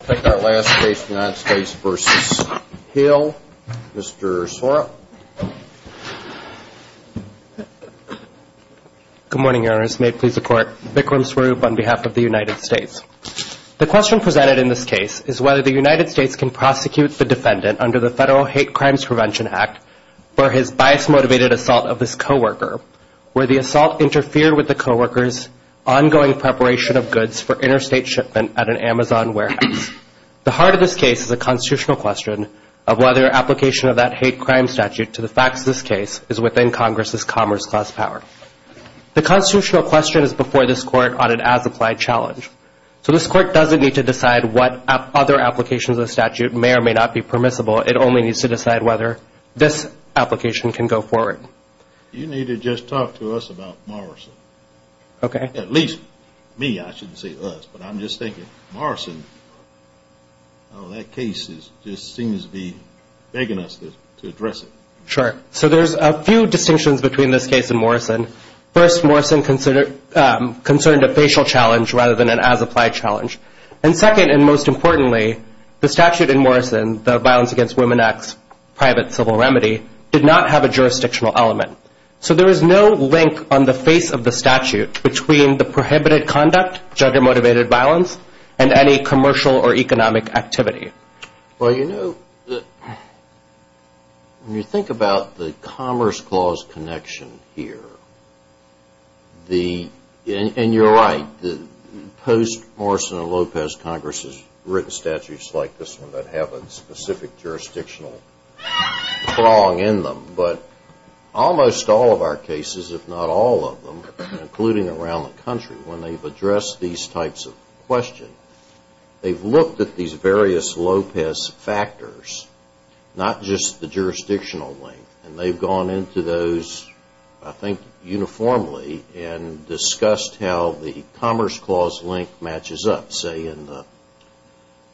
The question presented in this case is whether the United States can prosecute the defendant under the Federal Hate Crimes Prevention Act for his bias-motivated assault of his co-worker, where the assault interfered with the co-worker's ongoing preparation of goods for interstate shipment at an Amazon warehouse. The heart of this case is a constitutional question of whether application of that hate crime statute to the facts of this case is within Congress's commerce class power. The constitutional question is before this court on an as-applied challenge. So this court doesn't need to decide what other applications of the statute may or may not be permissible. It only needs to decide whether this application can go forward. You need to just talk to us about Morrison. At least me, I shouldn't say us, but I'm just thinking Morrison, that case just seems to be begging us to address it. Sure. So there's a few distinctions between this case and Morrison. First, Morrison concerned a facial challenge rather than an as-applied challenge. And second, and most importantly, the statute in Morrison, the Violence Against Women Act's private civil remedy, did not have a jurisdictional element. So there is no link on the face of the statute between the prohibited conduct, gender-motivated violence, and any commercial or economic activity. Well, you know, when you think about the Commerce Clause connection here, the, and you're right, the post-Morrison and Lopez Congress's written statutes like this one that have a specific jurisdictional prong in them. But almost all of our cases, if not all of them, including around the country, when they've addressed these types of questions, they've looked at these various Lopez factors, not just the jurisdictional link. And they've gone into those, I think, uniformly and discussed how the Commerce Clause link matches up, say in the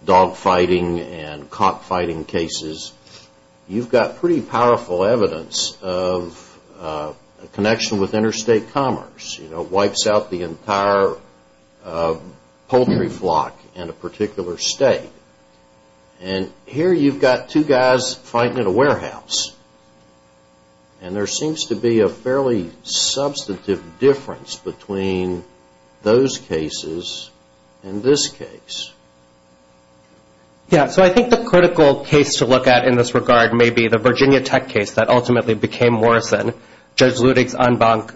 dog fighting and cop fighting cases. You've got pretty powerful evidence of a connection with interstate commerce. It wipes out the entire poultry flock in a particular state. And here you've got two guys fighting at a warehouse. And there seems to be a fairly similar case. Yeah, so I think the critical case to look at in this regard may be the Virginia Tech case that ultimately became Morrison. Judge Ludig's en banc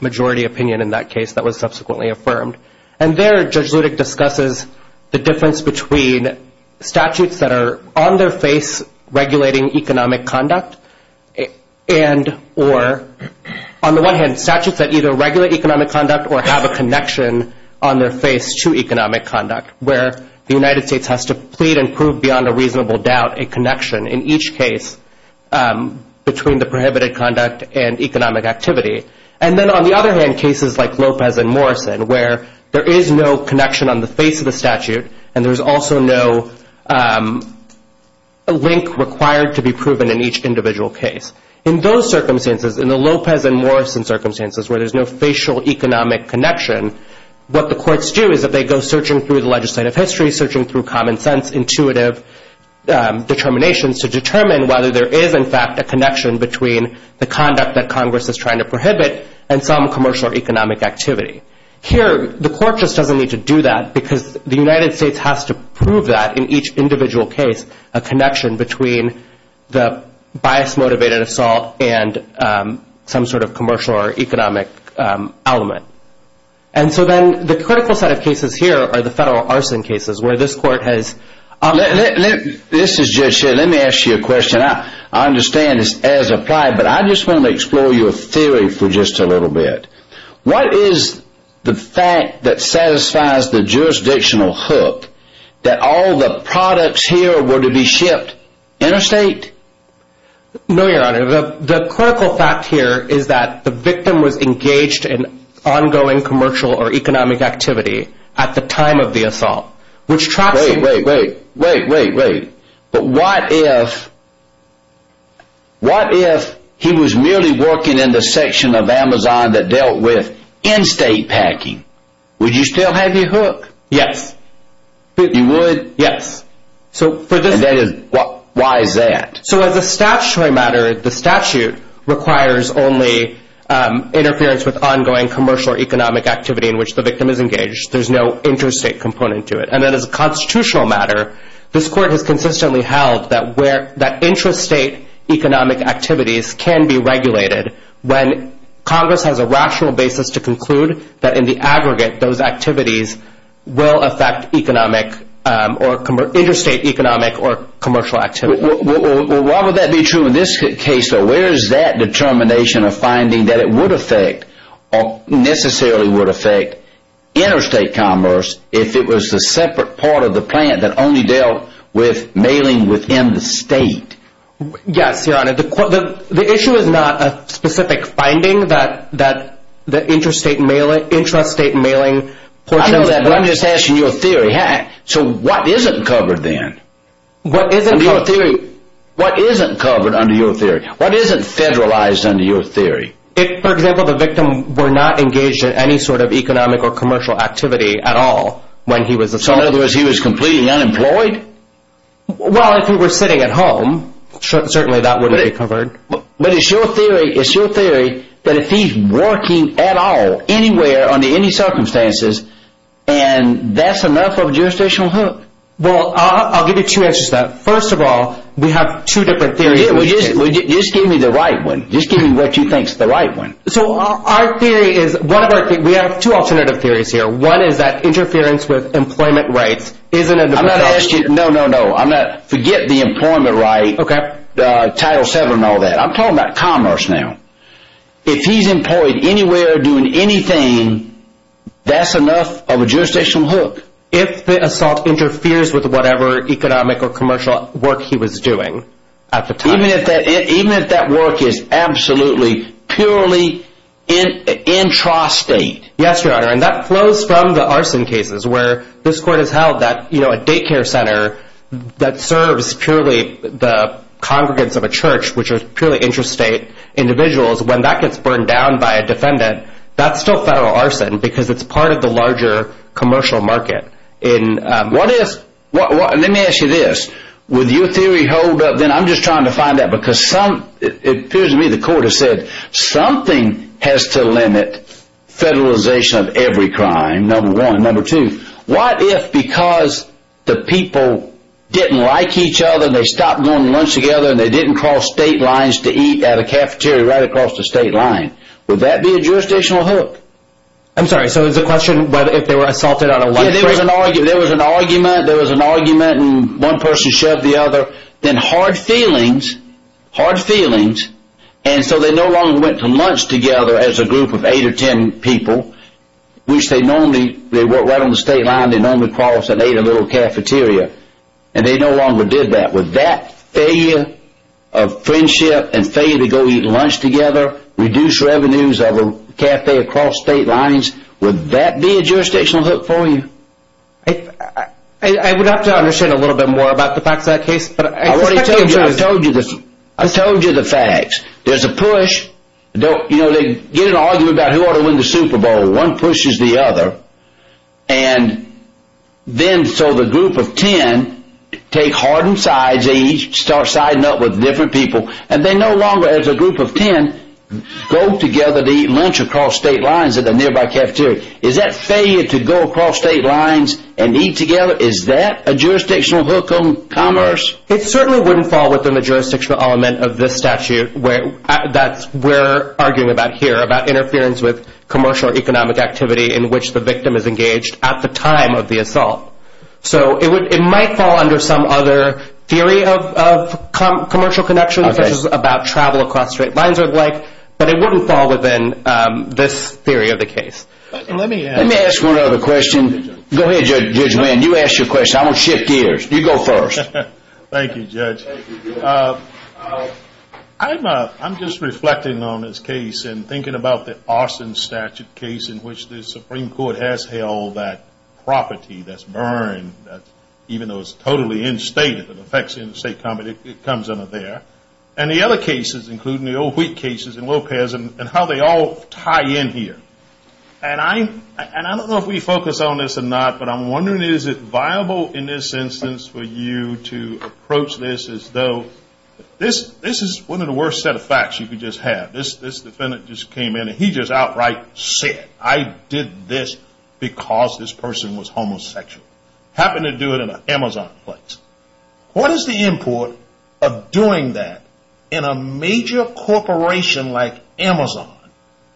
majority opinion in that case that was subsequently affirmed. And there Judge Ludig discusses the difference between statutes that are on their face regulating economic conduct and or, on the one hand, statutes that either regulate economic conduct or have a connection on their face to economic conduct, where the United States has to plead and prove beyond a reasonable doubt a connection in each case between the prohibited conduct and economic activity. And then on the other hand, cases like Lopez and Morrison, where there is no connection on the face of the statute, and there's also no link required to be proven in each individual case. In those circumstances, in the Lopez and Morrison circumstances, where there's no facial economic connection, what the courts do is that they go searching through the legislative history, searching through common sense, intuitive determinations, to determine whether there is, in fact, a connection between the conduct that Congress is trying to prohibit and some commercial or economic activity. Here the court just doesn't need to do that because the United States has to prove that in each individual case a connection between the bias-motivated assault and some sort of commercial or economic element. And so then the critical set of cases here are the federal arson cases, where this court has... This is Judge Shea. Let me ask you a question. I understand this as applied, but I just want to explore your theory for just a little bit. What is the fact that satisfies the jurisdictional hook that all the products here were to be shipped interstate? No, Your Honor. The critical fact here is that the victim was engaged in ongoing commercial or economic activity at the time of the assault, which tracks... Wait, wait, wait. But what if he was merely working in the section of Amazon that dealt with in-state packing? Would you still have your hook? Yes. You would? Yes. And why is that? So as a statutory matter, the statute requires only interference with ongoing commercial or economic activity in which the victim is engaged. There's no interstate component to it. And then as a constitutional matter, this court has consistently held that interstate economic activities can be regulated when Congress has a rational basis to conclude that in the aggregate, those activities will affect economic or interstate economic or commercial activity. Why would that be true in this case, though? Where is that determination of finding that it would affect or necessarily would affect interstate commerce if it was a separate part of the plant that only dealt with mailing within the state? Yes, Your Honor. The issue is not a specific finding that interstate mailing... I know that, but I'm just asking your theory. So what isn't covered then? What isn't covered? What isn't covered under your theory? What isn't federalized under your theory? If, for example, the victim were not engaged in any sort of economic or commercial activity at all when he was assaulted. So in other words, he was completely unemployed? Well, if he were sitting at home, certainly that wouldn't be covered. But it's your theory that if he's working at all, anywhere, under any circumstances, and that's enough of a jurisdictional hook. Well, I'll give you two answers to that. First of all, we have two different theories. Yeah, well, just give me the right one. Just give me what you think is the right one. So our theory is... We have two alternative theories here. One is that interference with No, no, no. Forget the employment right, Title VII, and all that. I'm talking about commerce now. If he's employed anywhere, doing anything, that's enough of a jurisdictional hook. If the assault interferes with whatever economic or commercial work he was doing at the time. Even if that work is absolutely, purely intrastate. Yes, Your Honor, and that flows from the arson cases where this court has held that a daycare center that serves purely the congregants of a church, which are purely intrastate individuals, when that gets burned down by a defendant, that's still federal arson because it's part of the larger commercial market. Let me ask you this. Would your theory hold up? I'm just trying to find out because it appears to me the court has said something has to limit federalization of every crime, number one. Number two, what if because the people didn't like each other, and they stopped going to lunch together, and they didn't cross state lines to eat at a cafeteria right across the state line. Would that be a jurisdictional hook? I'm sorry, so it's a question if they were assaulted out of one person? There was an argument, and one person shoved the other. Then hard feelings, hard feelings, and so they no longer went to lunch together as a group of eight or ten people, which they normally, they worked right on the state line, they normally crossed and ate at a little cafeteria, and they no longer did that. Would that failure of friendship and failure to go eat lunch together reduce revenues of a cafe across state lines? Would that be a jurisdictional hook for you? I would have to understand a little bit more about the facts of that case. I already told you, I told you the facts. There's a push, they get an argument about who ought to win the Super Bowl. One pushes the other, and then so the group of ten take hardened sides, they each start siding up with different people, and they no longer as a group of ten go together to eat lunch across state lines at a nearby cafeteria. Is that failure to go across state lines and eat together, is that a jurisdictional hook on commerce? It certainly wouldn't fall within the jurisdictional element of this statute that we're arguing about here, about interference with commercial or economic activity in which the victim is engaged at the time of the assault. So it might fall under some other theory of commercial connections, which is about travel across state lines or the like, but it wouldn't fall within this theory of the case. Let me ask one other question. Go ahead, Judge Wynn. You ask your question. I'm going to shift gears. You go first. Thank you, Judge. I'm just reflecting on this case and thinking about the Arson Statute case in which the Supreme Court has held that property that's burned, even though it's totally instated, it affects the interstate company, it comes under there. And the other cases, including the old weak cases in Lopez and how they all tie in here. And I don't know if we focus on this or not, but I'm wondering is it viable in this instance for you to approach this as though this is one of the worst set of facts you could just have. This defendant just came in and he just outright said, I did this because this person was homosexual. Happened to do it in an Amazon place. What is the import of doing that in a major corporation like Amazon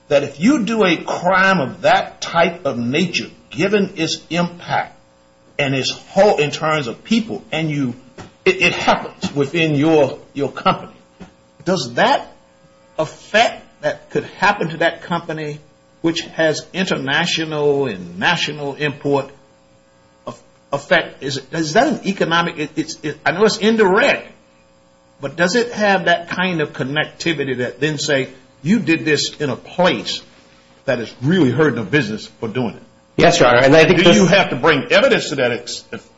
that if you do a crime of that type of nature, given its impact and its whole in terms of people and it happens within your company, does that affect that could happen to that company which has international and national import effect? Is that an economic, I know it's indirect, but does it have that kind of connectivity that then say you did this in a place that is really hurting the business for doing it? Yes, Your Honor. Do you have to bring evidence to that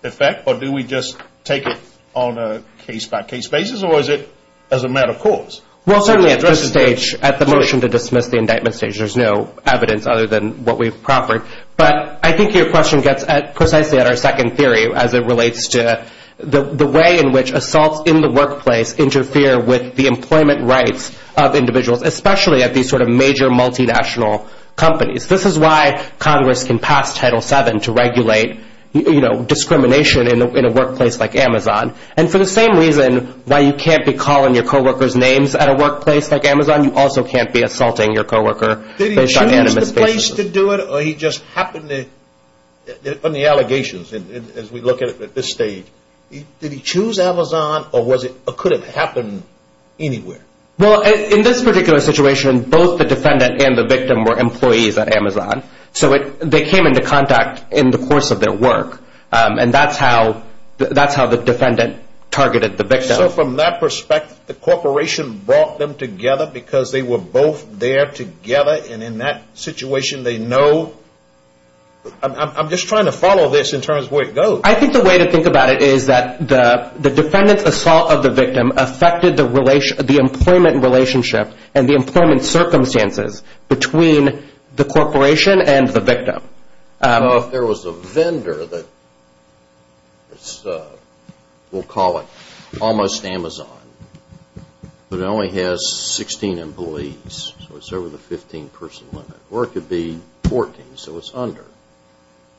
effect or do we just take it on a case by case basis or is it as a matter of course? Well, certainly at this stage, at the motion to dismiss the indictment stage, there's no evidence other than what we've proffered. But I think your question gets precisely at our second theory as it relates to the way in which assaults in the workplace interfere with the employment rights of individuals, especially at these sort of major multinational companies. This is why Congress can pass Title VII to regulate discrimination in a workplace like Amazon. And for the same reason why you can't be calling your co-workers names at a workplace like Amazon, you also can't be assaulting your co-worker based on animus basis. Did he choose to do it or he just happened to, on the allegations as we look at it at this stage, did he choose Amazon or could it have happened anywhere? Well, in this particular situation, both the defendant and the victim were employees at Amazon. So they came into contact in the course of their work. And that's how the defendant targeted the victim. So from that perspective, the corporation brought them together because they were both there together and in that situation they know. I'm just trying to follow this in terms of where it goes. I think the way to think about it is that the defendant's assault of the victim affected the employment relationship and the employment circumstances between the corporation and the victim. I don't know if there was a vendor that, we'll call it almost Amazon, but it only has 16 employees, so it's over the 15 person limit. Or it could be 14, so it's under.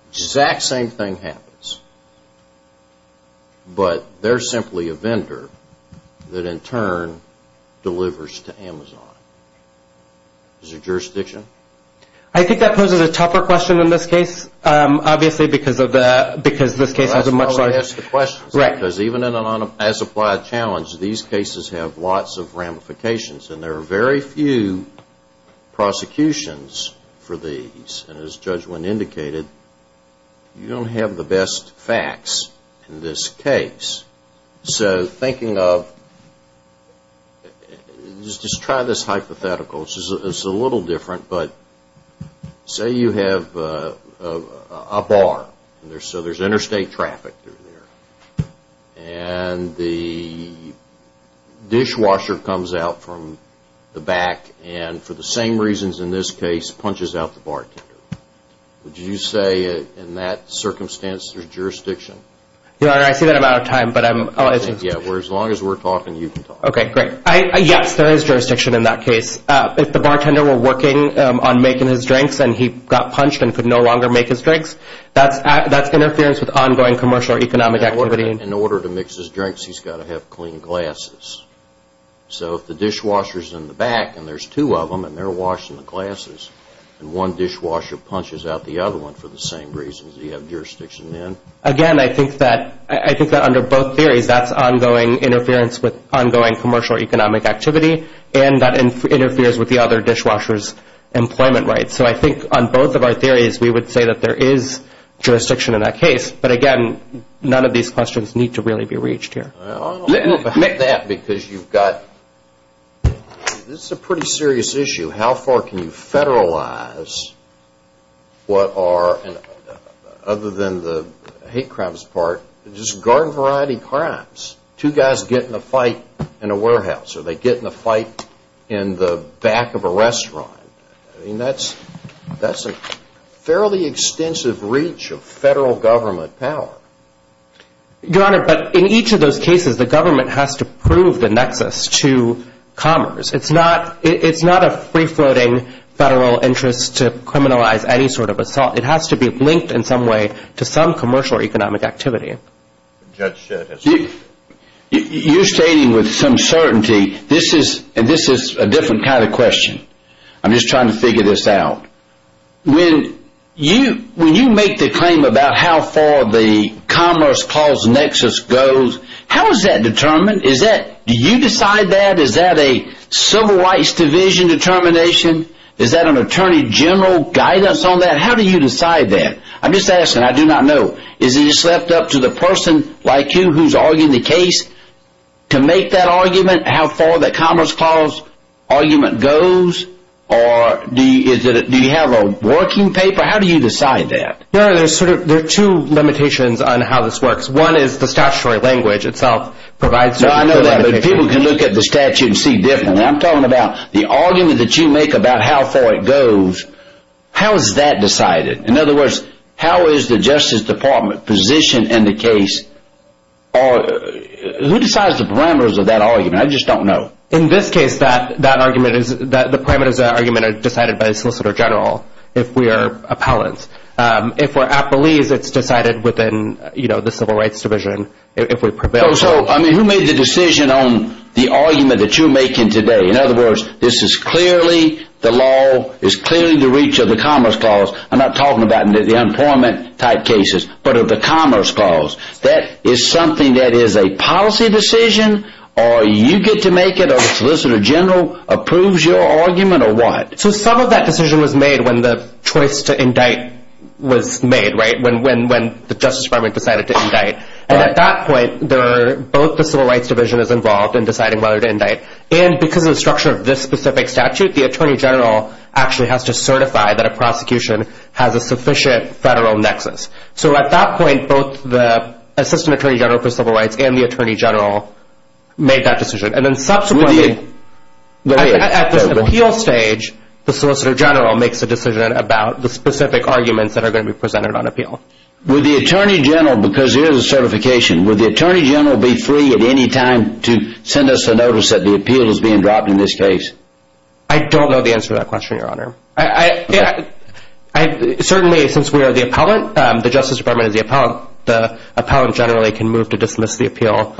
Exact same thing happens. But they're simply a vendor that in turn delivers to Amazon. Is there jurisdiction? I think that poses a tougher question in this case, obviously, because this case has a much larger... That's why I asked the question. Because even in an as-applied challenge, these cases have lots of ramifications and there are very few prosecutions for these. And as Judge Wynn indicated, you don't have the best facts in this case. So thinking of, just try this hypothetical. It's a little different, but say you have a bar. So there's interstate traffic through there. And the dishwasher comes out from the back and for the same reasons in this case, punches out the bartender. Would you say in that circumstance there's jurisdiction? Your Honor, I see that I'm out of time, but I'm... Yeah, as long as we're talking, you can talk. Okay, great. Yes, there is jurisdiction in that case. If the bartender were working on making his drinks and he got punched and could no longer make his drinks, that's interference with ongoing commercial or economic activity. In order to mix his drinks, he's got to have clean glasses. So if the dishwasher's in the back and there's two of them and they're washing the glasses and one dishwasher punches out the other one for the same reasons, do you have jurisdiction then? Again, I think that under both theories, that's ongoing interference with ongoing commercial or economic activity, and that interferes with the other dishwasher's employment rights. So I think on both of our theories, we would say that there is jurisdiction in that case. But again, none of these questions need to really be reached here. I'll admit that because you've got... This is a pretty serious issue. How far can you federalize what are, other than the hate crimes part, just garden variety crimes? Two guys get in a fight in a warehouse, or they get in a fight in the back of a restaurant. I mean, that's a fairly extensive reach of federal government power. Your Honor, but in each of those cases, the government has to prove the nexus to commerce. It's not a free-floating federal interest to criminalize any sort of assault. It has to be linked in some way to some commercial or economic activity. You're stating with some certainty, and this is a different kind of question. I'm just trying to figure this out. When you make the claim about how far the commerce clause nexus goes, how is that determined? Do you decide that? Is that a Civil Rights Division determination? Is that an Attorney General guidance on that? How do you decide that? I'm just asking. I do not know. Is it just left up to the person like you who's arguing the case to make that argument, how far that commerce clause argument goes? Do you have a working paper? How do you decide that? Your Honor, there are two limitations on how this works. One is the statutory language itself provides... No, I know that, but people can look at the statute and see differently. I'm talking about the argument that you make about how far it goes. How is that decided? In other words, how is the Justice Department positioned in the case? Who decides the parameters of that argument? I just don't know. In this case, the parameters of that argument are decided by the Solicitor General if we are appellants. If we're appellees, it's decided within the Civil Rights Division if we prevail. Who made the decision on the argument that you're making today? In other words, this is clearly the law, is clearly the reach of the commerce clause. I'm not talking about the employment type cases, but of the commerce clause. That is something that is a policy decision, or you get to make it, or the Solicitor General approves your argument, or what? So some of that decision was made when the choice to indict was made, right? When the Justice Department decided to indict. And at that point, both the Civil Rights Division is involved in deciding whether to indict. And because of the structure of this specific statute, the Attorney General actually has to certify that a prosecution has a sufficient federal nexus. So at that point, both the Assistant Attorney General for Civil Rights and the Attorney General made that decision. And then subsequently, at the appeal stage, the Solicitor General makes a decision about the specific arguments that are going to be presented on appeal. Would the Attorney General, because there is a certification, would the Attorney General be free at any time to send us a notice that the appeal is being dropped in this case? I don't know the answer to that question, Your Honor. Certainly, since we are the appellant, the Justice Department is the appellant, the appellant generally can move to dismiss the appeal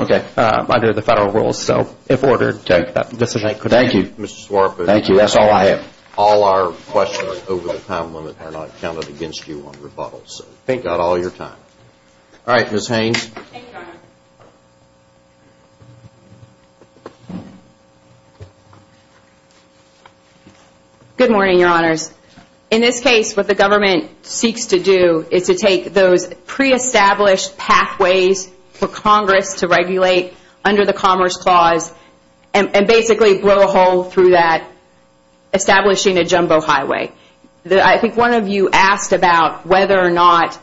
under the federal rules. So if ordered, that decision could be made. Thank you. Thank you. That's all I have. All our questions over the time limit are not counted against you on rebuttals. Thank God, all your time. All right, Ms. Haynes. Thank you, Your Honor. Good morning, Your Honors. In this case, what the government seeks to do is to take those pre-established pathways for Congress to regulate under the Commerce Clause and basically blow a hole through that, establishing a jumbo highway. I think one of you asked about whether or not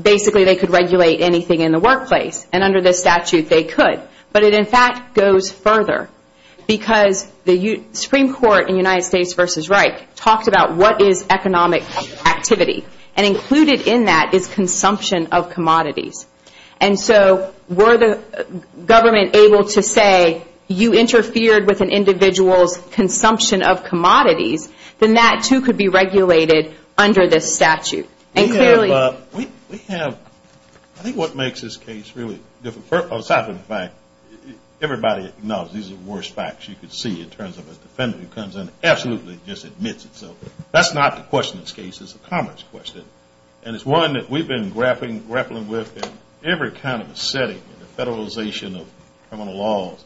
basically they could regulate anything in the workplace. And under this statute, they could. But it, in fact, goes further because the Supreme Court in United States v. Reich talked about what is economic activity. And included in that is consumption of commodities. And so were the government able to say you interfered with an individual's consumption of commodities, then that, too, could be regulated under this statute. And clearly we have, I think what makes this case really difficult, aside from the fact everybody acknowledges these are the worst facts you could see in terms of a defendant who comes in and absolutely just admits it. So that's not the question of this case. It's a commerce question. And it's one that we've been grappling with in every kind of setting, the federalization of criminal laws.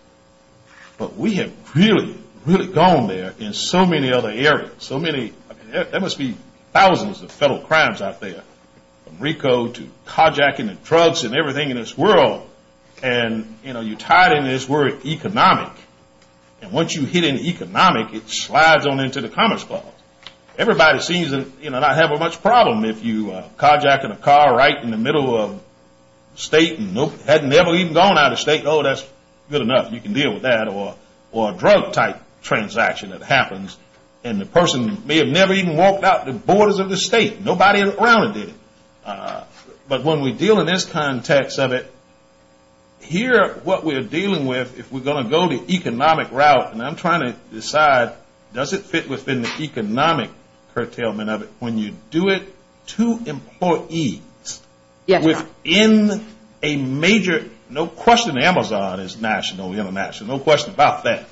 But we have really, really gone there in so many other areas, so many. There must be thousands of federal crimes out there, from RICO to carjacking and drugs and everything in this world. And, you know, you tie it in this word economic. And once you hit an economic, it slides on into the Commerce Clause. Everybody seems to not have much problem if you are carjacking a car right in the middle of the state and had never even gone out of the state. Oh, that's good enough. You can deal with that. Or a drug-type transaction that happens, and the person may have never even walked out the borders of the state. Nobody around did it. But when we deal in this context of it, here what we're dealing with, if we're going to go the economic route, and I'm trying to decide does it fit within the economic curtailment of it, when you do it to employees within a major, no question Amazon is national, international, no question about that,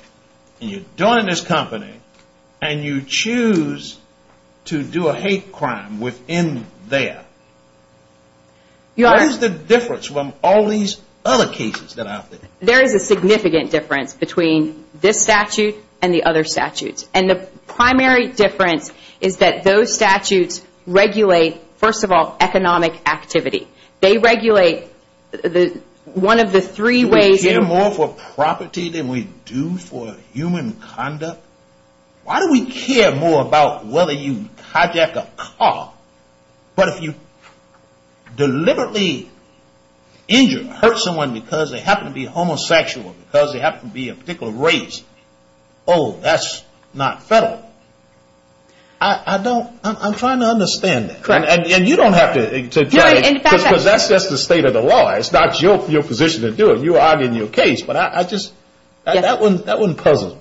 and you're doing it in this company, and you choose to do a hate crime within there, what is the difference from all these other cases that are out there? There is a significant difference between this statute and the other statutes. And the primary difference is that those statutes regulate, first of all, economic activity. They regulate one of the three ways. Do we care more for property than we do for human conduct? Why do we care more about whether you hijack a car? But if you deliberately injure or hurt someone because they happen to be homosexual, because they happen to be a particular race, oh, that's not federal. I don't – I'm trying to understand that. Correct. And you don't have to – because that's just the state of the law. It's not your position to do it. You argue in your case, but I just – that one puzzles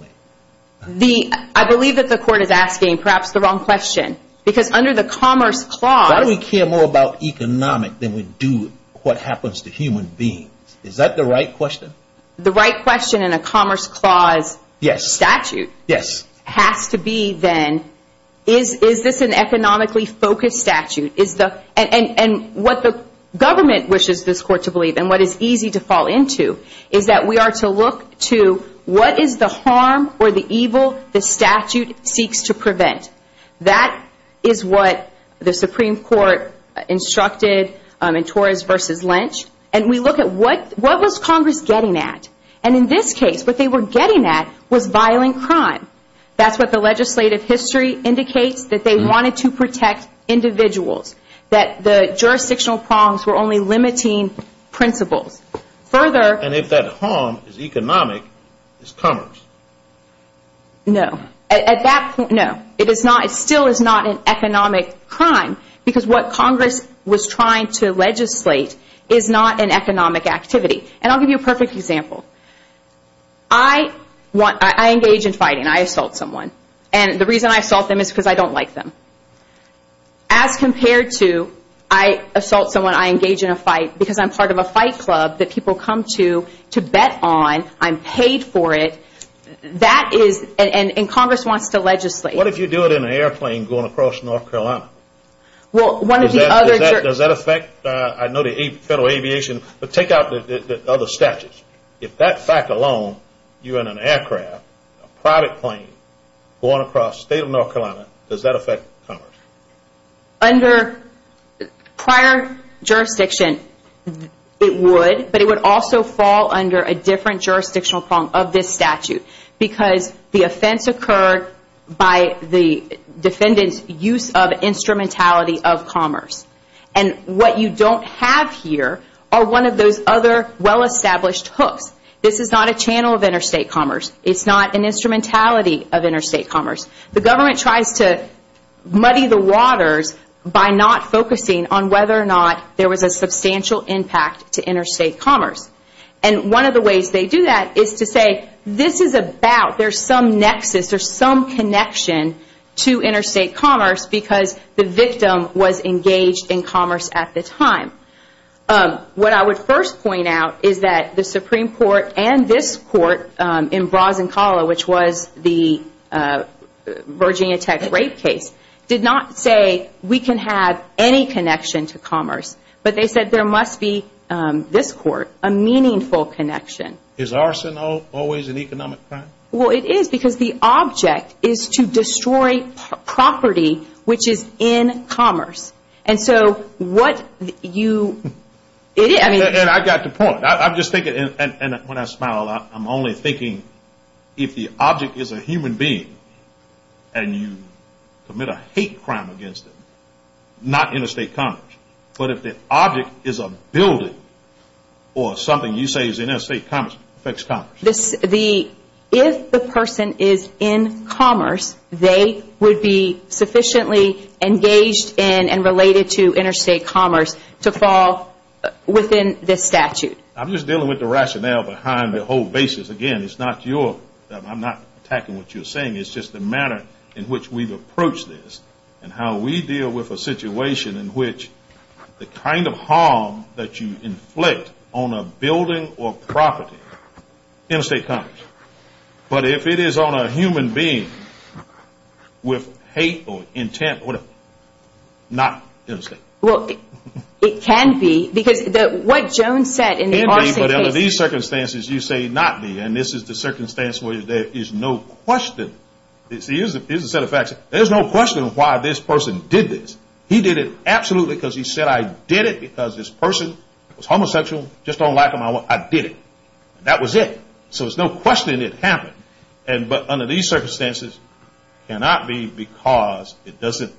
me. I believe that the court is asking perhaps the wrong question. Because under the Commerce Clause – Why do we care more about economic than we do what happens to human beings? Is that the right question? The right question in a Commerce Clause statute has to be then, is this an economically focused statute? And what the government wishes this court to believe and what is easy to fall into is that we are to look to what is the harm or the evil the statute seeks to prevent. That is what the Supreme Court instructed in Torres v. Lynch. And we look at what was Congress getting at. And in this case, what they were getting at was violent crime. That's what the legislative history indicates, that they wanted to protect individuals, that the jurisdictional prongs were only limiting principles. Further – And if that harm is economic, it's commerce. No. At that point, no. It is not – it still is not an economic crime because what Congress was trying to legislate is not an economic activity. And I'll give you a perfect example. I want – I engage in fighting. I assault someone. And the reason I assault them is because I don't like them. As compared to I assault someone, I engage in a fight because I'm part of a fight club that people come to to bet on. I'm paid for it. That is – and Congress wants to legislate. What if you do it in an airplane going across North Carolina? Well, one of the other – Does that affect – I know the Federal Aviation – but take out the other statutes. If that fact alone, you're in an aircraft, a private plane, going across the state of North Carolina, does that affect commerce? Under prior jurisdiction, it would, but it would also fall under a different jurisdictional prong of this statute because the offense occurred by the defendant's use of instrumentality of commerce. And what you don't have here are one of those other well-established hooks. This is not a channel of interstate commerce. It's not an instrumentality of interstate commerce. The government tries to muddy the waters by not focusing on whether or not there was a substantial impact to interstate commerce. And one of the ways they do that is to say this is about – there's some nexus or some connection to interstate commerce because the victim was engaged in commerce at the time. What I would first point out is that the Supreme Court and this court in Brazincala, which was the Virginia Tech rape case, did not say we can have any connection to commerce, but they said there must be, this court, a meaningful connection. Is arsenal always an economic crime? Well, it is because the object is to destroy property which is in commerce. And so what you – And I got the point. I'm just thinking, and when I smile, I'm only thinking if the object is a human being and you commit a hate crime against them, not interstate commerce, but if the object is a building or something you say is interstate commerce, affects commerce. If the person is in commerce, they would be sufficiently engaged in and related to interstate commerce to fall within this statute. I'm just dealing with the rationale behind the whole basis. Again, it's not your – I'm not attacking what you're saying. It's just the manner in which we've approached this and how we deal with a situation in which the kind of harm that you inflict on a building or property, interstate commerce. But if it is on a human being with hate or intent, whatever, not interstate. Well, it can be. Because what Jones said in the – But under these circumstances, you say not be. And this is the circumstance where there is no question. See, here's a set of facts. There's no question why this person did this. He did it absolutely because he said, I did it because this person was homosexual. Just don't like them, I did it. That was it. So there's no question it happened. But under these circumstances, cannot be because it doesn't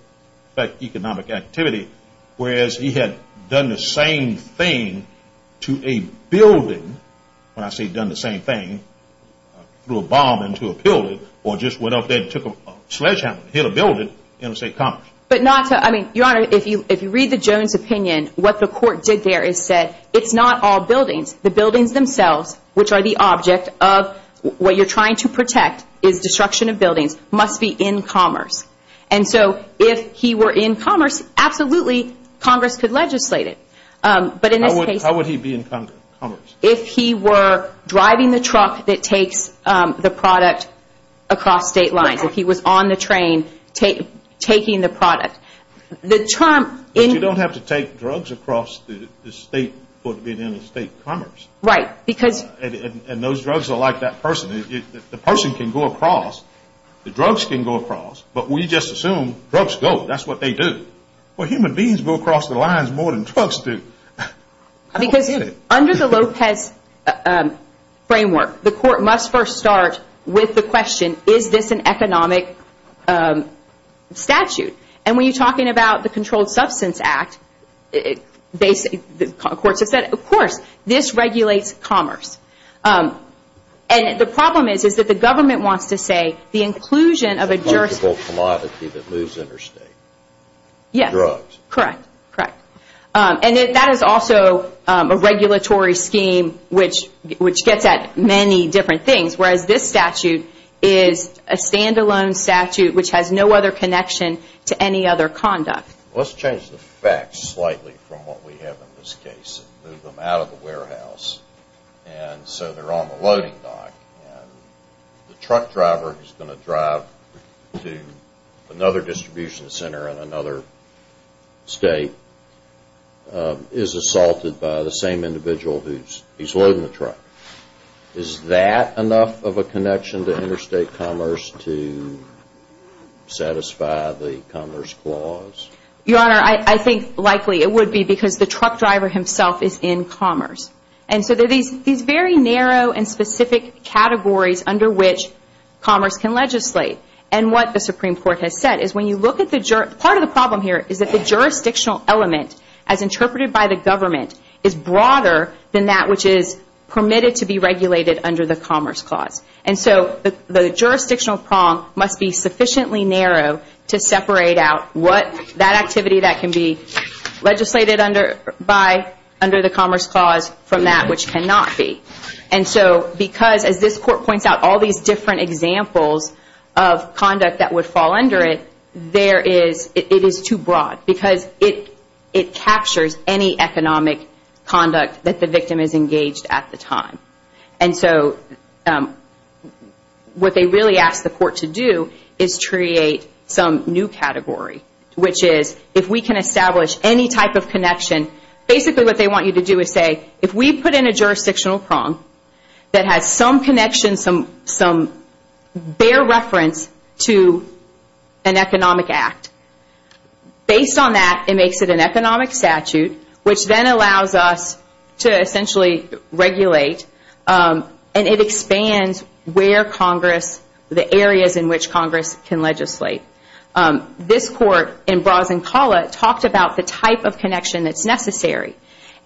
affect economic activity, whereas he had done the same thing to a building, when I say done the same thing, threw a bomb into a building or just went up there and took a sledgehammer and hit a building, interstate commerce. But not to – I mean, Your Honor, if you read the Jones opinion, what the court did there is said, it's not all buildings. The buildings themselves, which are the object of what you're trying to protect is destruction of buildings, must be in commerce. And so if he were in commerce, absolutely, Congress could legislate it. But in this case – How would he be in commerce? If he were driving the truck that takes the product across state lines, if he was on the train taking the product. The term – But you don't have to take drugs across the state for it to be in state commerce. Right. Because – And those drugs are like that person. The person can go across. The drugs can go across. But we just assume drugs go. That's what they do. Well, human beings go across the lines more than drugs do. Because under the Lopez framework, the court must first start with the question, is this an economic statute? And when you're talking about the Controlled Substance Act, the courts have said, of course, this regulates commerce. And the problem is that the government wants to say the inclusion of a jurisdiction – It's a collectible commodity that moves interstate. Yes. Drugs. Correct. And that is also a regulatory scheme which gets at many different things, whereas this statute is a standalone statute which has no other connection to any other conduct. Let's change the facts slightly from what we have in this case and move them out of the warehouse. And so they're on the loading dock. The truck driver who's going to drive to another distribution center in another state Is that enough of a connection to interstate commerce to satisfy the Commerce Clause? Your Honor, I think likely it would be because the truck driver himself is in commerce. And so there are these very narrow and specific categories under which commerce can legislate. And what the Supreme Court has said is when you look at the – part of the problem here is that the jurisdictional element, as interpreted by the government, is broader than that which is permitted to be regulated under the Commerce Clause. And so the jurisdictional prong must be sufficiently narrow to separate out what – that activity that can be legislated by under the Commerce Clause from that which cannot be. And so because, as this Court points out, all these different examples of conduct that would fall under it, there is – it is too broad because it captures any economic conduct that the victim is engaged at the time. And so what they really ask the Court to do is create some new category, which is if we can establish any type of connection, basically what they want you to do is say, if we put in a jurisdictional prong that has some connection, some bare reference to an economic act. Based on that, it makes it an economic statute, which then allows us to essentially regulate and it expands where Congress – the areas in which Congress can legislate. This Court in Brazincala talked about the type of connection that's necessary.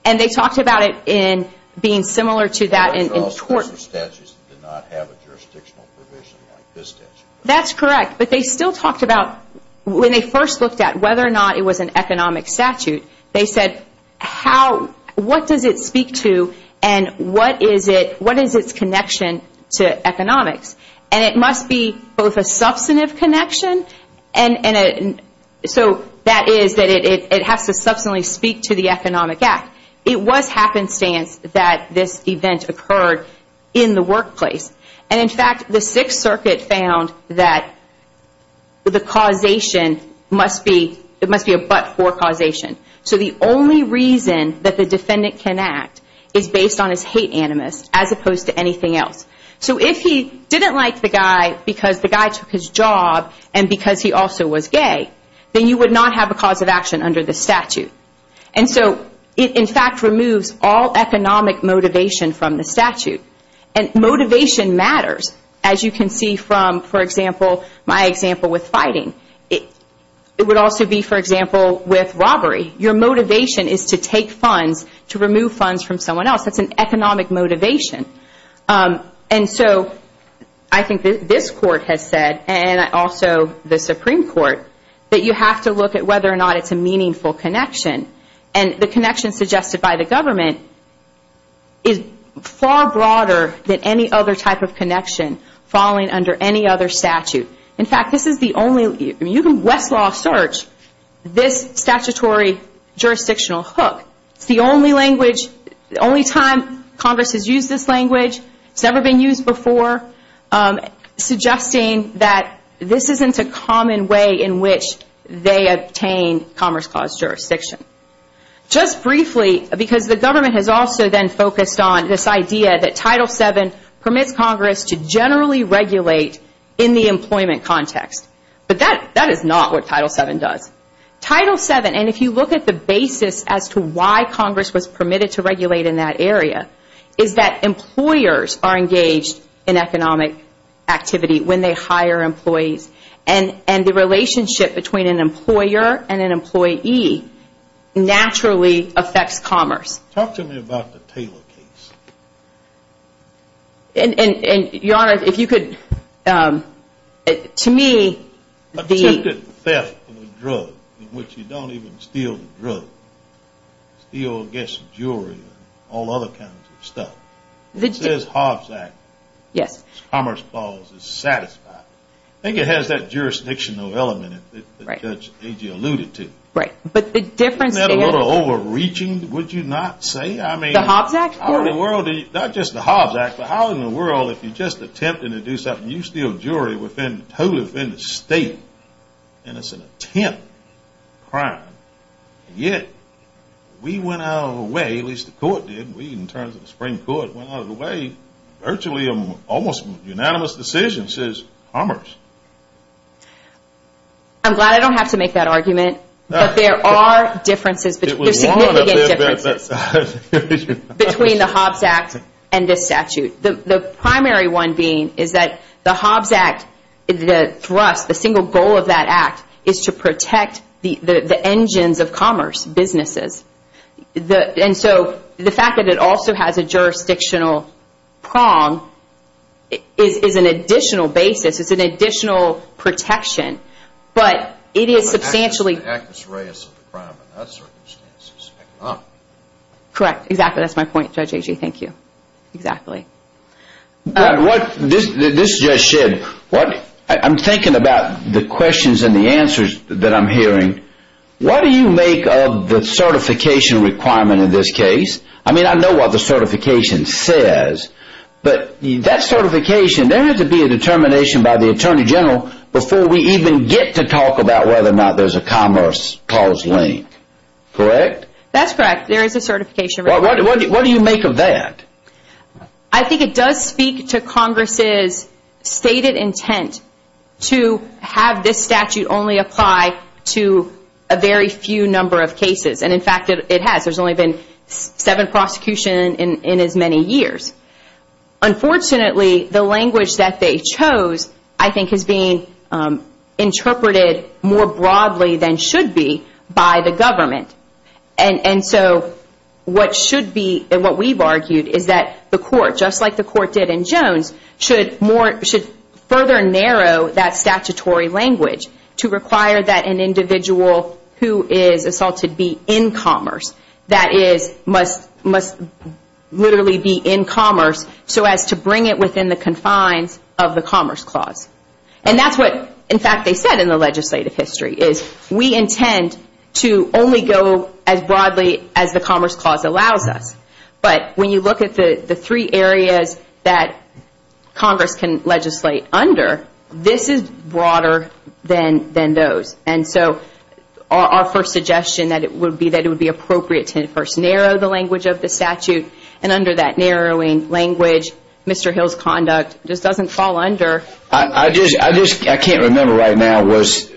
And they talked about it in being similar to that in – Well, those are statutes that do not have a jurisdictional provision like this statute. That's correct, but they still talked about – when they first looked at whether or not it was an economic statute, they said how – what does it speak to and what is it – what is its connection to economics? And it must be both a substantive connection and – so that is that it has to substantially speak to the economic act. It was happenstance that this event occurred in the workplace. And in fact, the Sixth Circuit found that the causation must be – it must be a but-for causation. So the only reason that the defendant can act is based on his hate animus, as opposed to anything else. So if he didn't like the guy because the guy took his job and because he also was gay, then you would not have a cause of action under this statute. And so it, in fact, removes all economic motivation from the statute. And motivation matters, as you can see from, for example, my example with fighting. It would also be, for example, with robbery. Your motivation is to take funds, to remove funds from someone else. That's an economic motivation. And so I think this Court has said, and also the Supreme Court, that you have to look at whether or not it's a meaningful connection. And the connection suggested by the government is far broader than any other type of connection falling under any other statute. In fact, this is the only – you can Westlaw search this statutory jurisdictional hook. It's the only language – the only time Congress has used this language. It's never been used before, suggesting that this isn't a common way in which they obtain Commerce Clause jurisdiction. Just briefly, because the government has also then focused on this idea that Title VII permits Congress to generally regulate in the employment context. But that is not what Title VII does. Title VII, and if you look at the basis as to why Congress was permitted to regulate in that area, is that employers are engaged in economic activity when they hire employees. And the relationship between an employer and an employee naturally affects commerce. Talk to me about the Taylor case. And, Your Honor, if you could – to me, the – Look at theft of a drug in which you don't even steal the drug. Steal, get some jewelry and all other kinds of stuff. It says Hobbs Act. Yes. Commerce Clause is satisfied. I think it has that jurisdictional element that Judge Agee alluded to. Right. But the difference – Isn't that a little overreaching, would you not say? I mean – The Hobbs Act? How in the world – not just the Hobbs Act, but how in the world, if you just attempt to do something, you steal jewelry within – totally within the state. And it's an attempt crime. And yet, we went out of our way – at least the court did. We, in terms of the Supreme Court, went out of the way, virtually, almost unanimous decision, says commerce. I'm glad I don't have to make that argument. But there are differences between – there are significant differences between the Hobbs Act and this statute. The primary one being is that the Hobbs Act, the thrust, the single goal of that act, is to protect the engines of commerce, businesses. And so, the fact that it also has a jurisdictional prong is an additional basis. It's an additional protection. But it is substantially – The act is reyes of the crime in that circumstance. Correct. Exactly. That's my point, Judge Agee. Thank you. Exactly. This judge said, I'm thinking about the questions and the answers that I'm hearing. What do you make of the certification requirement in this case? I mean, I know what the certification says. But that certification, there has to be a determination by the Attorney General before we even get to talk about whether or not there's a commerce clause link. Correct? That's correct. There is a certification requirement. What do you make of that? I think it does speak to Congress' stated intent to have this statute only apply to a very few number of cases. And, in fact, it has. There's only been seven prosecutions in as many years. Unfortunately, the language that they chose, I think, is being interpreted more broadly than should be by the government. And so what should be, and what we've argued, is that the court, just like the court did in Jones, should further narrow that statutory language to require that an individual who is assaulted be in commerce. That is, must literally be in commerce so as to bring it within the confines of the commerce clause. And that's what, in fact, they said in the legislative history, is we intend to only go as broadly as the commerce clause allows us. But when you look at the three areas that Congress can legislate under, this is broader than those. And so our first suggestion would be that it would be appropriate to first narrow the language of the statute. And under that narrowing language, Mr. Hill's conduct just doesn't fall under. I just can't remember right now. Was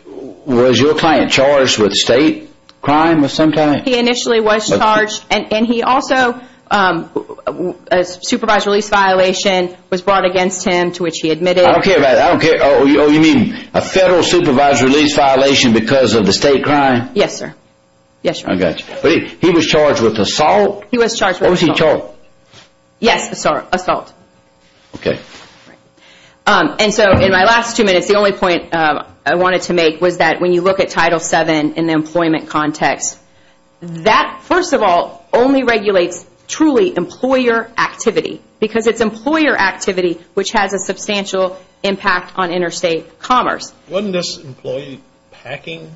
your client charged with state crime of some kind? He initially was charged. And he also, a supervised release violation was brought against him to which he admitted. I don't care about that. Oh, you mean a federal supervised release violation because of the state crime? Yes, sir. I got you. But he was charged with assault? He was charged with assault. Yes, assault. Okay. And so in my last two minutes, the only point I wanted to make was that when you look at Title VII in the employment context, that, first of all, only regulates truly employer activity because it's employer activity which has a substantial impact on interstate commerce. Wasn't this employee packing?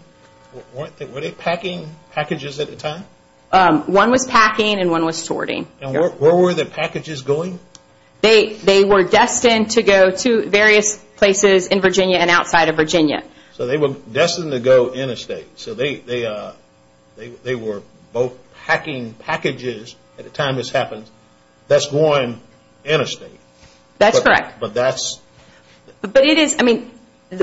Were they packing packages at the time? One was packing and one was sorting. And where were the packages going? They were destined to go to various places in Virginia and outside of Virginia. So they were destined to go interstate. So they were both packing packages at the time this happened. That's going interstate. That's correct. But that's – But it is, I mean,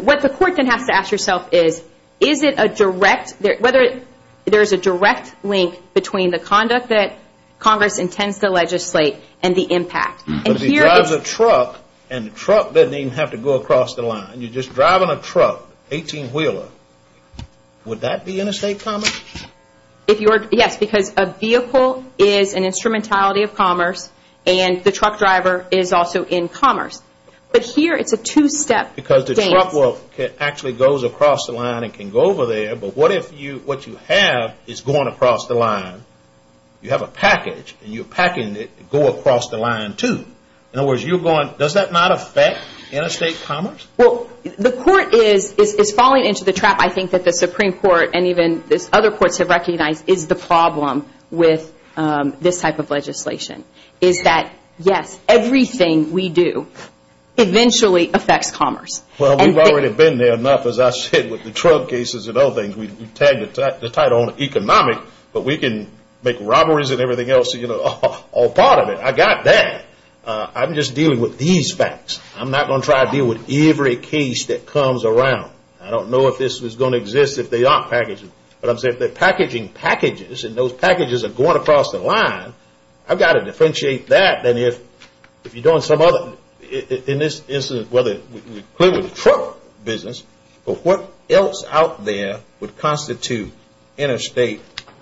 what the court then has to ask yourself is, is it a direct – whether there's a direct link between the conduct that Congress intends to legislate and the impact. But if he drives a truck and the truck doesn't even have to go across the line, you're just driving a truck, 18-wheeler, would that be interstate commerce? Yes, because a vehicle is an instrumentality of commerce and the truck driver is also in commerce. But here it's a two-step dance. Because the truck actually goes across the line and can go over there, but what if what you have is going across the line, you have a package, and you're packing it to go across the line too. In other words, you're going – does that not affect interstate commerce? Well, the court is falling into the trap, I think, that the Supreme Court and even other courts have recognized is the problem with this type of legislation, is that, yes, everything we do eventually affects commerce. Well, we've already been there enough, as I said, with the truck cases and other things. We've tagged the title economic, but we can make robberies and everything else a part of it. I got that. I'm just dealing with these facts. I'm not going to try to deal with every case that comes around. I don't know if this was going to exist if they aren't packaged. But I'm saying if they're packaging packages and those packages are going across the line, I've got to differentiate that than if you're doing some other – in this instance, whether we're dealing with the truck business, but what else out there would constitute interstate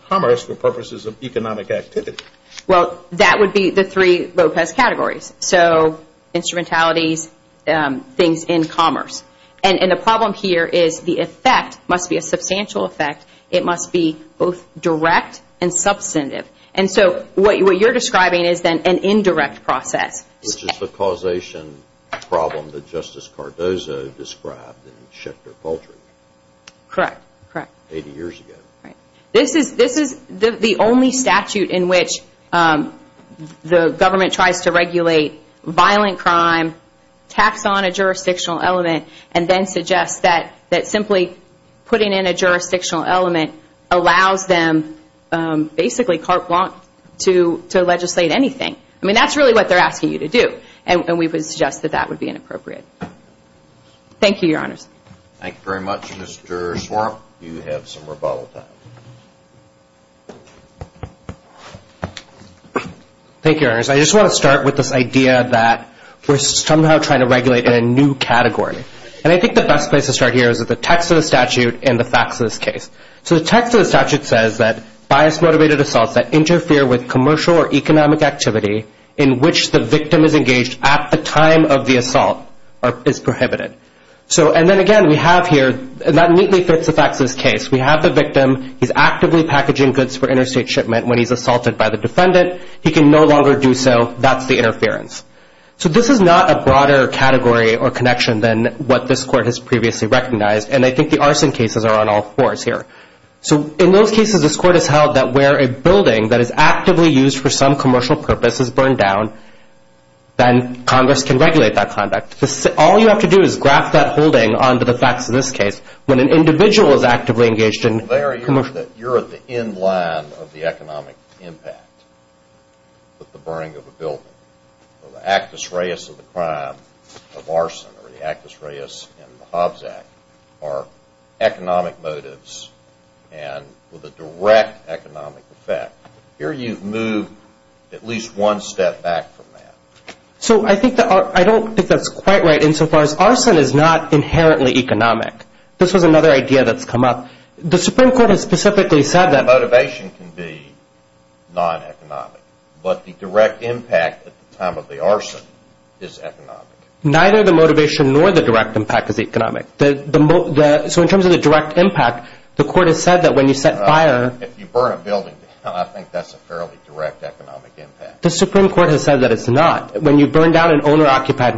commerce for purposes of economic activity? Well, that would be the three Lopez categories, so instrumentalities, things in commerce. And the problem here is the effect must be a substantial effect. It must be both direct and substantive. And so what you're describing is then an indirect process. Which is the causation problem that Justice Cardozo described in Schecter-Paltry. Correct, correct. Eighty years ago. Right. This is the only statute in which the government tries to regulate violent crime, tax on a jurisdictional element, and then suggests that simply putting in a jurisdictional element allows them basically carte blanche to legislate anything. I mean, that's really what they're asking you to do. And we would suggest that that would be inappropriate. Thank you, Your Honors. Thank you very much. Mr. Swarup, you have some rebuttal time. Thank you, Your Honors. I just want to start with this idea that we're somehow trying to regulate a new category. And I think the best place to start here is the text of the statute and the facts of this case. So the text of the statute says that bias-motivated assaults that interfere with commercial or economic activity in which the victim is engaged at the time of the assault is prohibited. And then, again, we have here, and that neatly fits the facts of this case. We have the victim. He's actively packaging goods for interstate shipment when he's assaulted by the defendant. He can no longer do so. That's the interference. So this is not a broader category or connection than what this Court has previously recognized. And I think the arson cases are on all fours here. So in those cases, this Court has held that where a building that is actively used for some commercial purpose is burned down, then Congress can regulate that conduct. All you have to do is graft that holding onto the facts of this case. When an individual is actively engaged in commercial. You're at the end line of the economic impact of the burning of a building. The actus reus of the crime of arson, or the actus reus in the Hobbs Act, are economic motives and with a direct economic effect. Here you've moved at least one step back from that. So I don't think that's quite right insofar as arson is not inherently economic. This was another idea that's come up. The Supreme Court has specifically said that. The motivation can be non-economic. But the direct impact at the time of the arson is economic. Neither the motivation nor the direct impact is economic. So in terms of the direct impact, the Court has said that when you set fire. If you burn a building down, I think that's a fairly direct economic impact. The Supreme Court has said that it's not. When you burn down an owner-occupied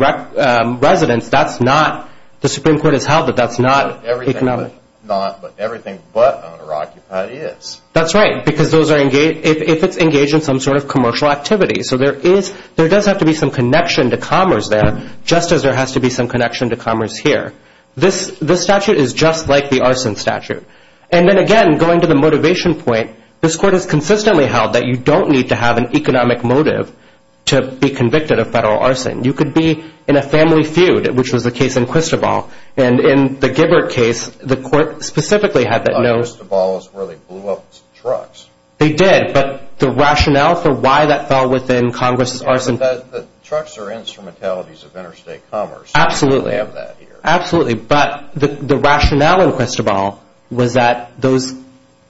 residence, that's not. The Supreme Court has held that that's not economic. But everything but owner-occupied is. That's right, because if it's engaged in some sort of commercial activity. So there does have to be some connection to commerce there, just as there has to be some connection to commerce here. This statute is just like the arson statute. And then again, going to the motivation point, this Court has consistently held that you don't need to have an economic motive to be convicted of federal arson. You could be in a family feud, which was the case in Cristobal. And in the Gibbert case, the Court specifically had that note. But Cristobal is where they blew up trucks. They did. But the rationale for why that fell within Congress' arson. Trucks are instrumentalities of interstate commerce. Absolutely. We have that here. Absolutely. But the rationale in Cristobal was that those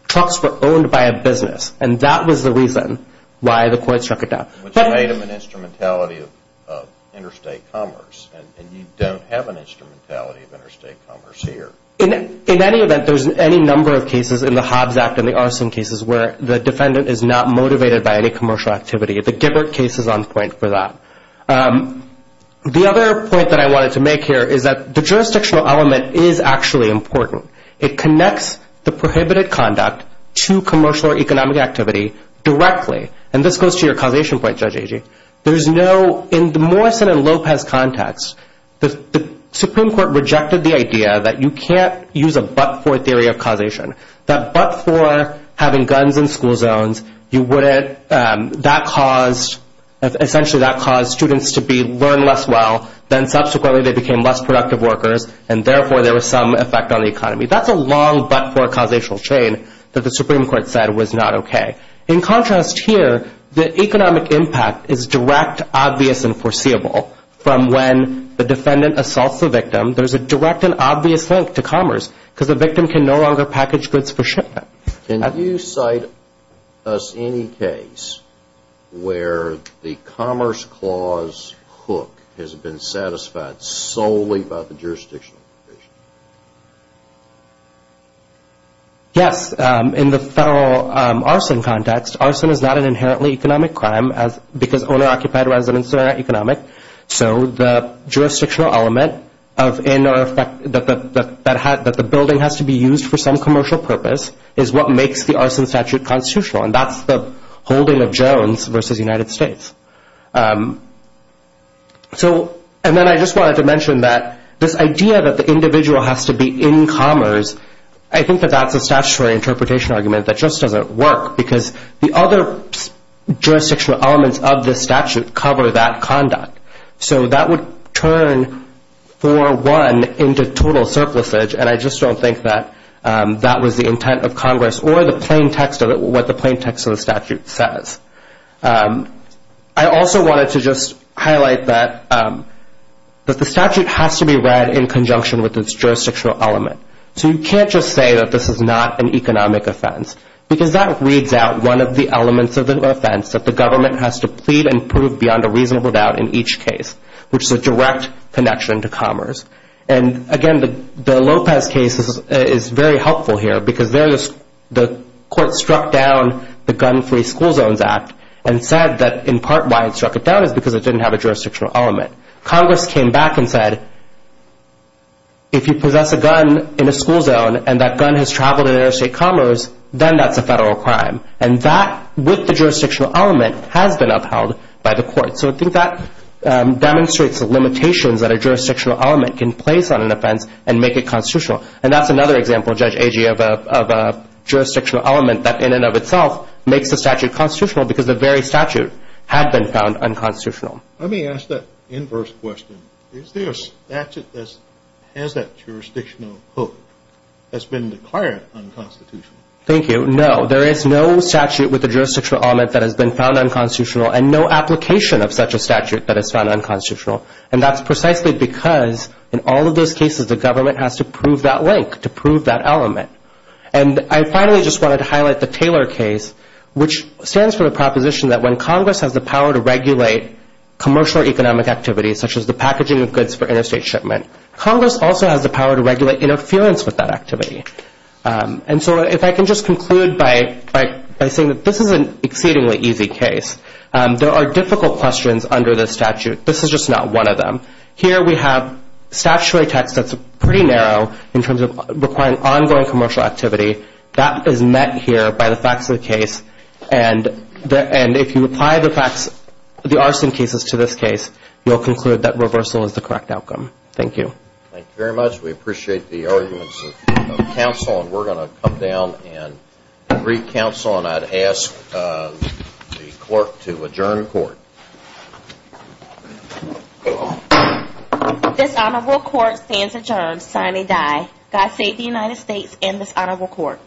trucks were owned by a business. And that was the reason why the Court struck it down. Which made them an instrumentality of interstate commerce. And you don't have an instrumentality of interstate commerce here. In any event, there's any number of cases in the Hobbs Act and the arson cases where the defendant is not motivated by any commercial activity. The Gibbert case is on point for that. The other point that I wanted to make here is that the jurisdictional element is actually important. It connects the prohibited conduct to commercial or economic activity directly. And this goes to your causation point, Judge Agee. In the Morrison and Lopez context, the Supreme Court rejected the idea that you can't use a but-for theory of causation. That but-for having guns in school zones, essentially that caused students to learn less well, then subsequently they became less productive workers, and therefore there was some effect on the economy. That's a long but-for causational chain that the Supreme Court said was not okay. In contrast here, the economic impact is direct, obvious, and foreseeable from when the defendant assaults the victim. There's a direct and obvious link to commerce because the victim can no longer package goods for shipment. Can you cite us any case where the Commerce Clause hook has been satisfied solely by the jurisdictional provision? Yes. In the federal arson context, arson is not an inherently economic crime because owner-occupied residents are not economic. So the jurisdictional element that the building has to be used for some commercial purpose is what makes the arson statute constitutional, and that's the holding of Jones v. United States. And then I just wanted to mention that this idea that the individual has to be in commerce, I think that that's a statutory interpretation argument that just doesn't work because the other jurisdictional elements of the statute cover that conduct. So that would turn, for one, into total surplusage, and I just don't think that that was the intent of Congress or what the plain text of the statute says. I also wanted to just highlight that the statute has to be read in conjunction with its jurisdictional element. So you can't just say that this is not an economic offense because that reads out one of the elements of the offense that the government has to plead and prove beyond a reasonable doubt in each case, which is a direct connection to commerce. And again, the Lopez case is very helpful here because there the court struck down the Gun-Free School Zones Act and said that in part why it struck it down is because it didn't have a jurisdictional element. Congress came back and said, if you possess a gun in a school zone and that gun has traveled in interstate commerce, then that's a federal crime. And that, with the jurisdictional element, has been upheld by the court. So I think that demonstrates the limitations that a jurisdictional element can place on an offense and make it constitutional. And that's another example, Judge Agee, of a jurisdictional element that in and of itself makes the statute constitutional because the very statute had been found unconstitutional. Let me ask that inverse question. Is there a statute that has that jurisdictional hook that's been declared unconstitutional? Thank you. No, there is no statute with a jurisdictional element that has been found unconstitutional and no application of such a statute that is found unconstitutional. And that's precisely because, in all of those cases, the government has to prove that link, to prove that element. And I finally just wanted to highlight the Taylor case, which stands for the proposition that when Congress has the power to regulate commercial economic activities, such as the packaging of goods for interstate shipment, Congress also has the power to regulate interference with that activity. And so if I can just conclude by saying that this is an exceedingly easy case. There are difficult questions under this statute. This is just not one of them. Here we have statutory text that's pretty narrow in terms of requiring ongoing commercial activity. That is met here by the facts of the case, and if you apply the facts of the arson cases to this case, you'll conclude that reversal is the correct outcome. Thank you. Thank you very much. We appreciate the arguments of counsel, and we're going to come down and reconcile, and I'd ask the clerk to adjourn court. This honorable court stands adjourned, signing die. God save the United States and this honorable court.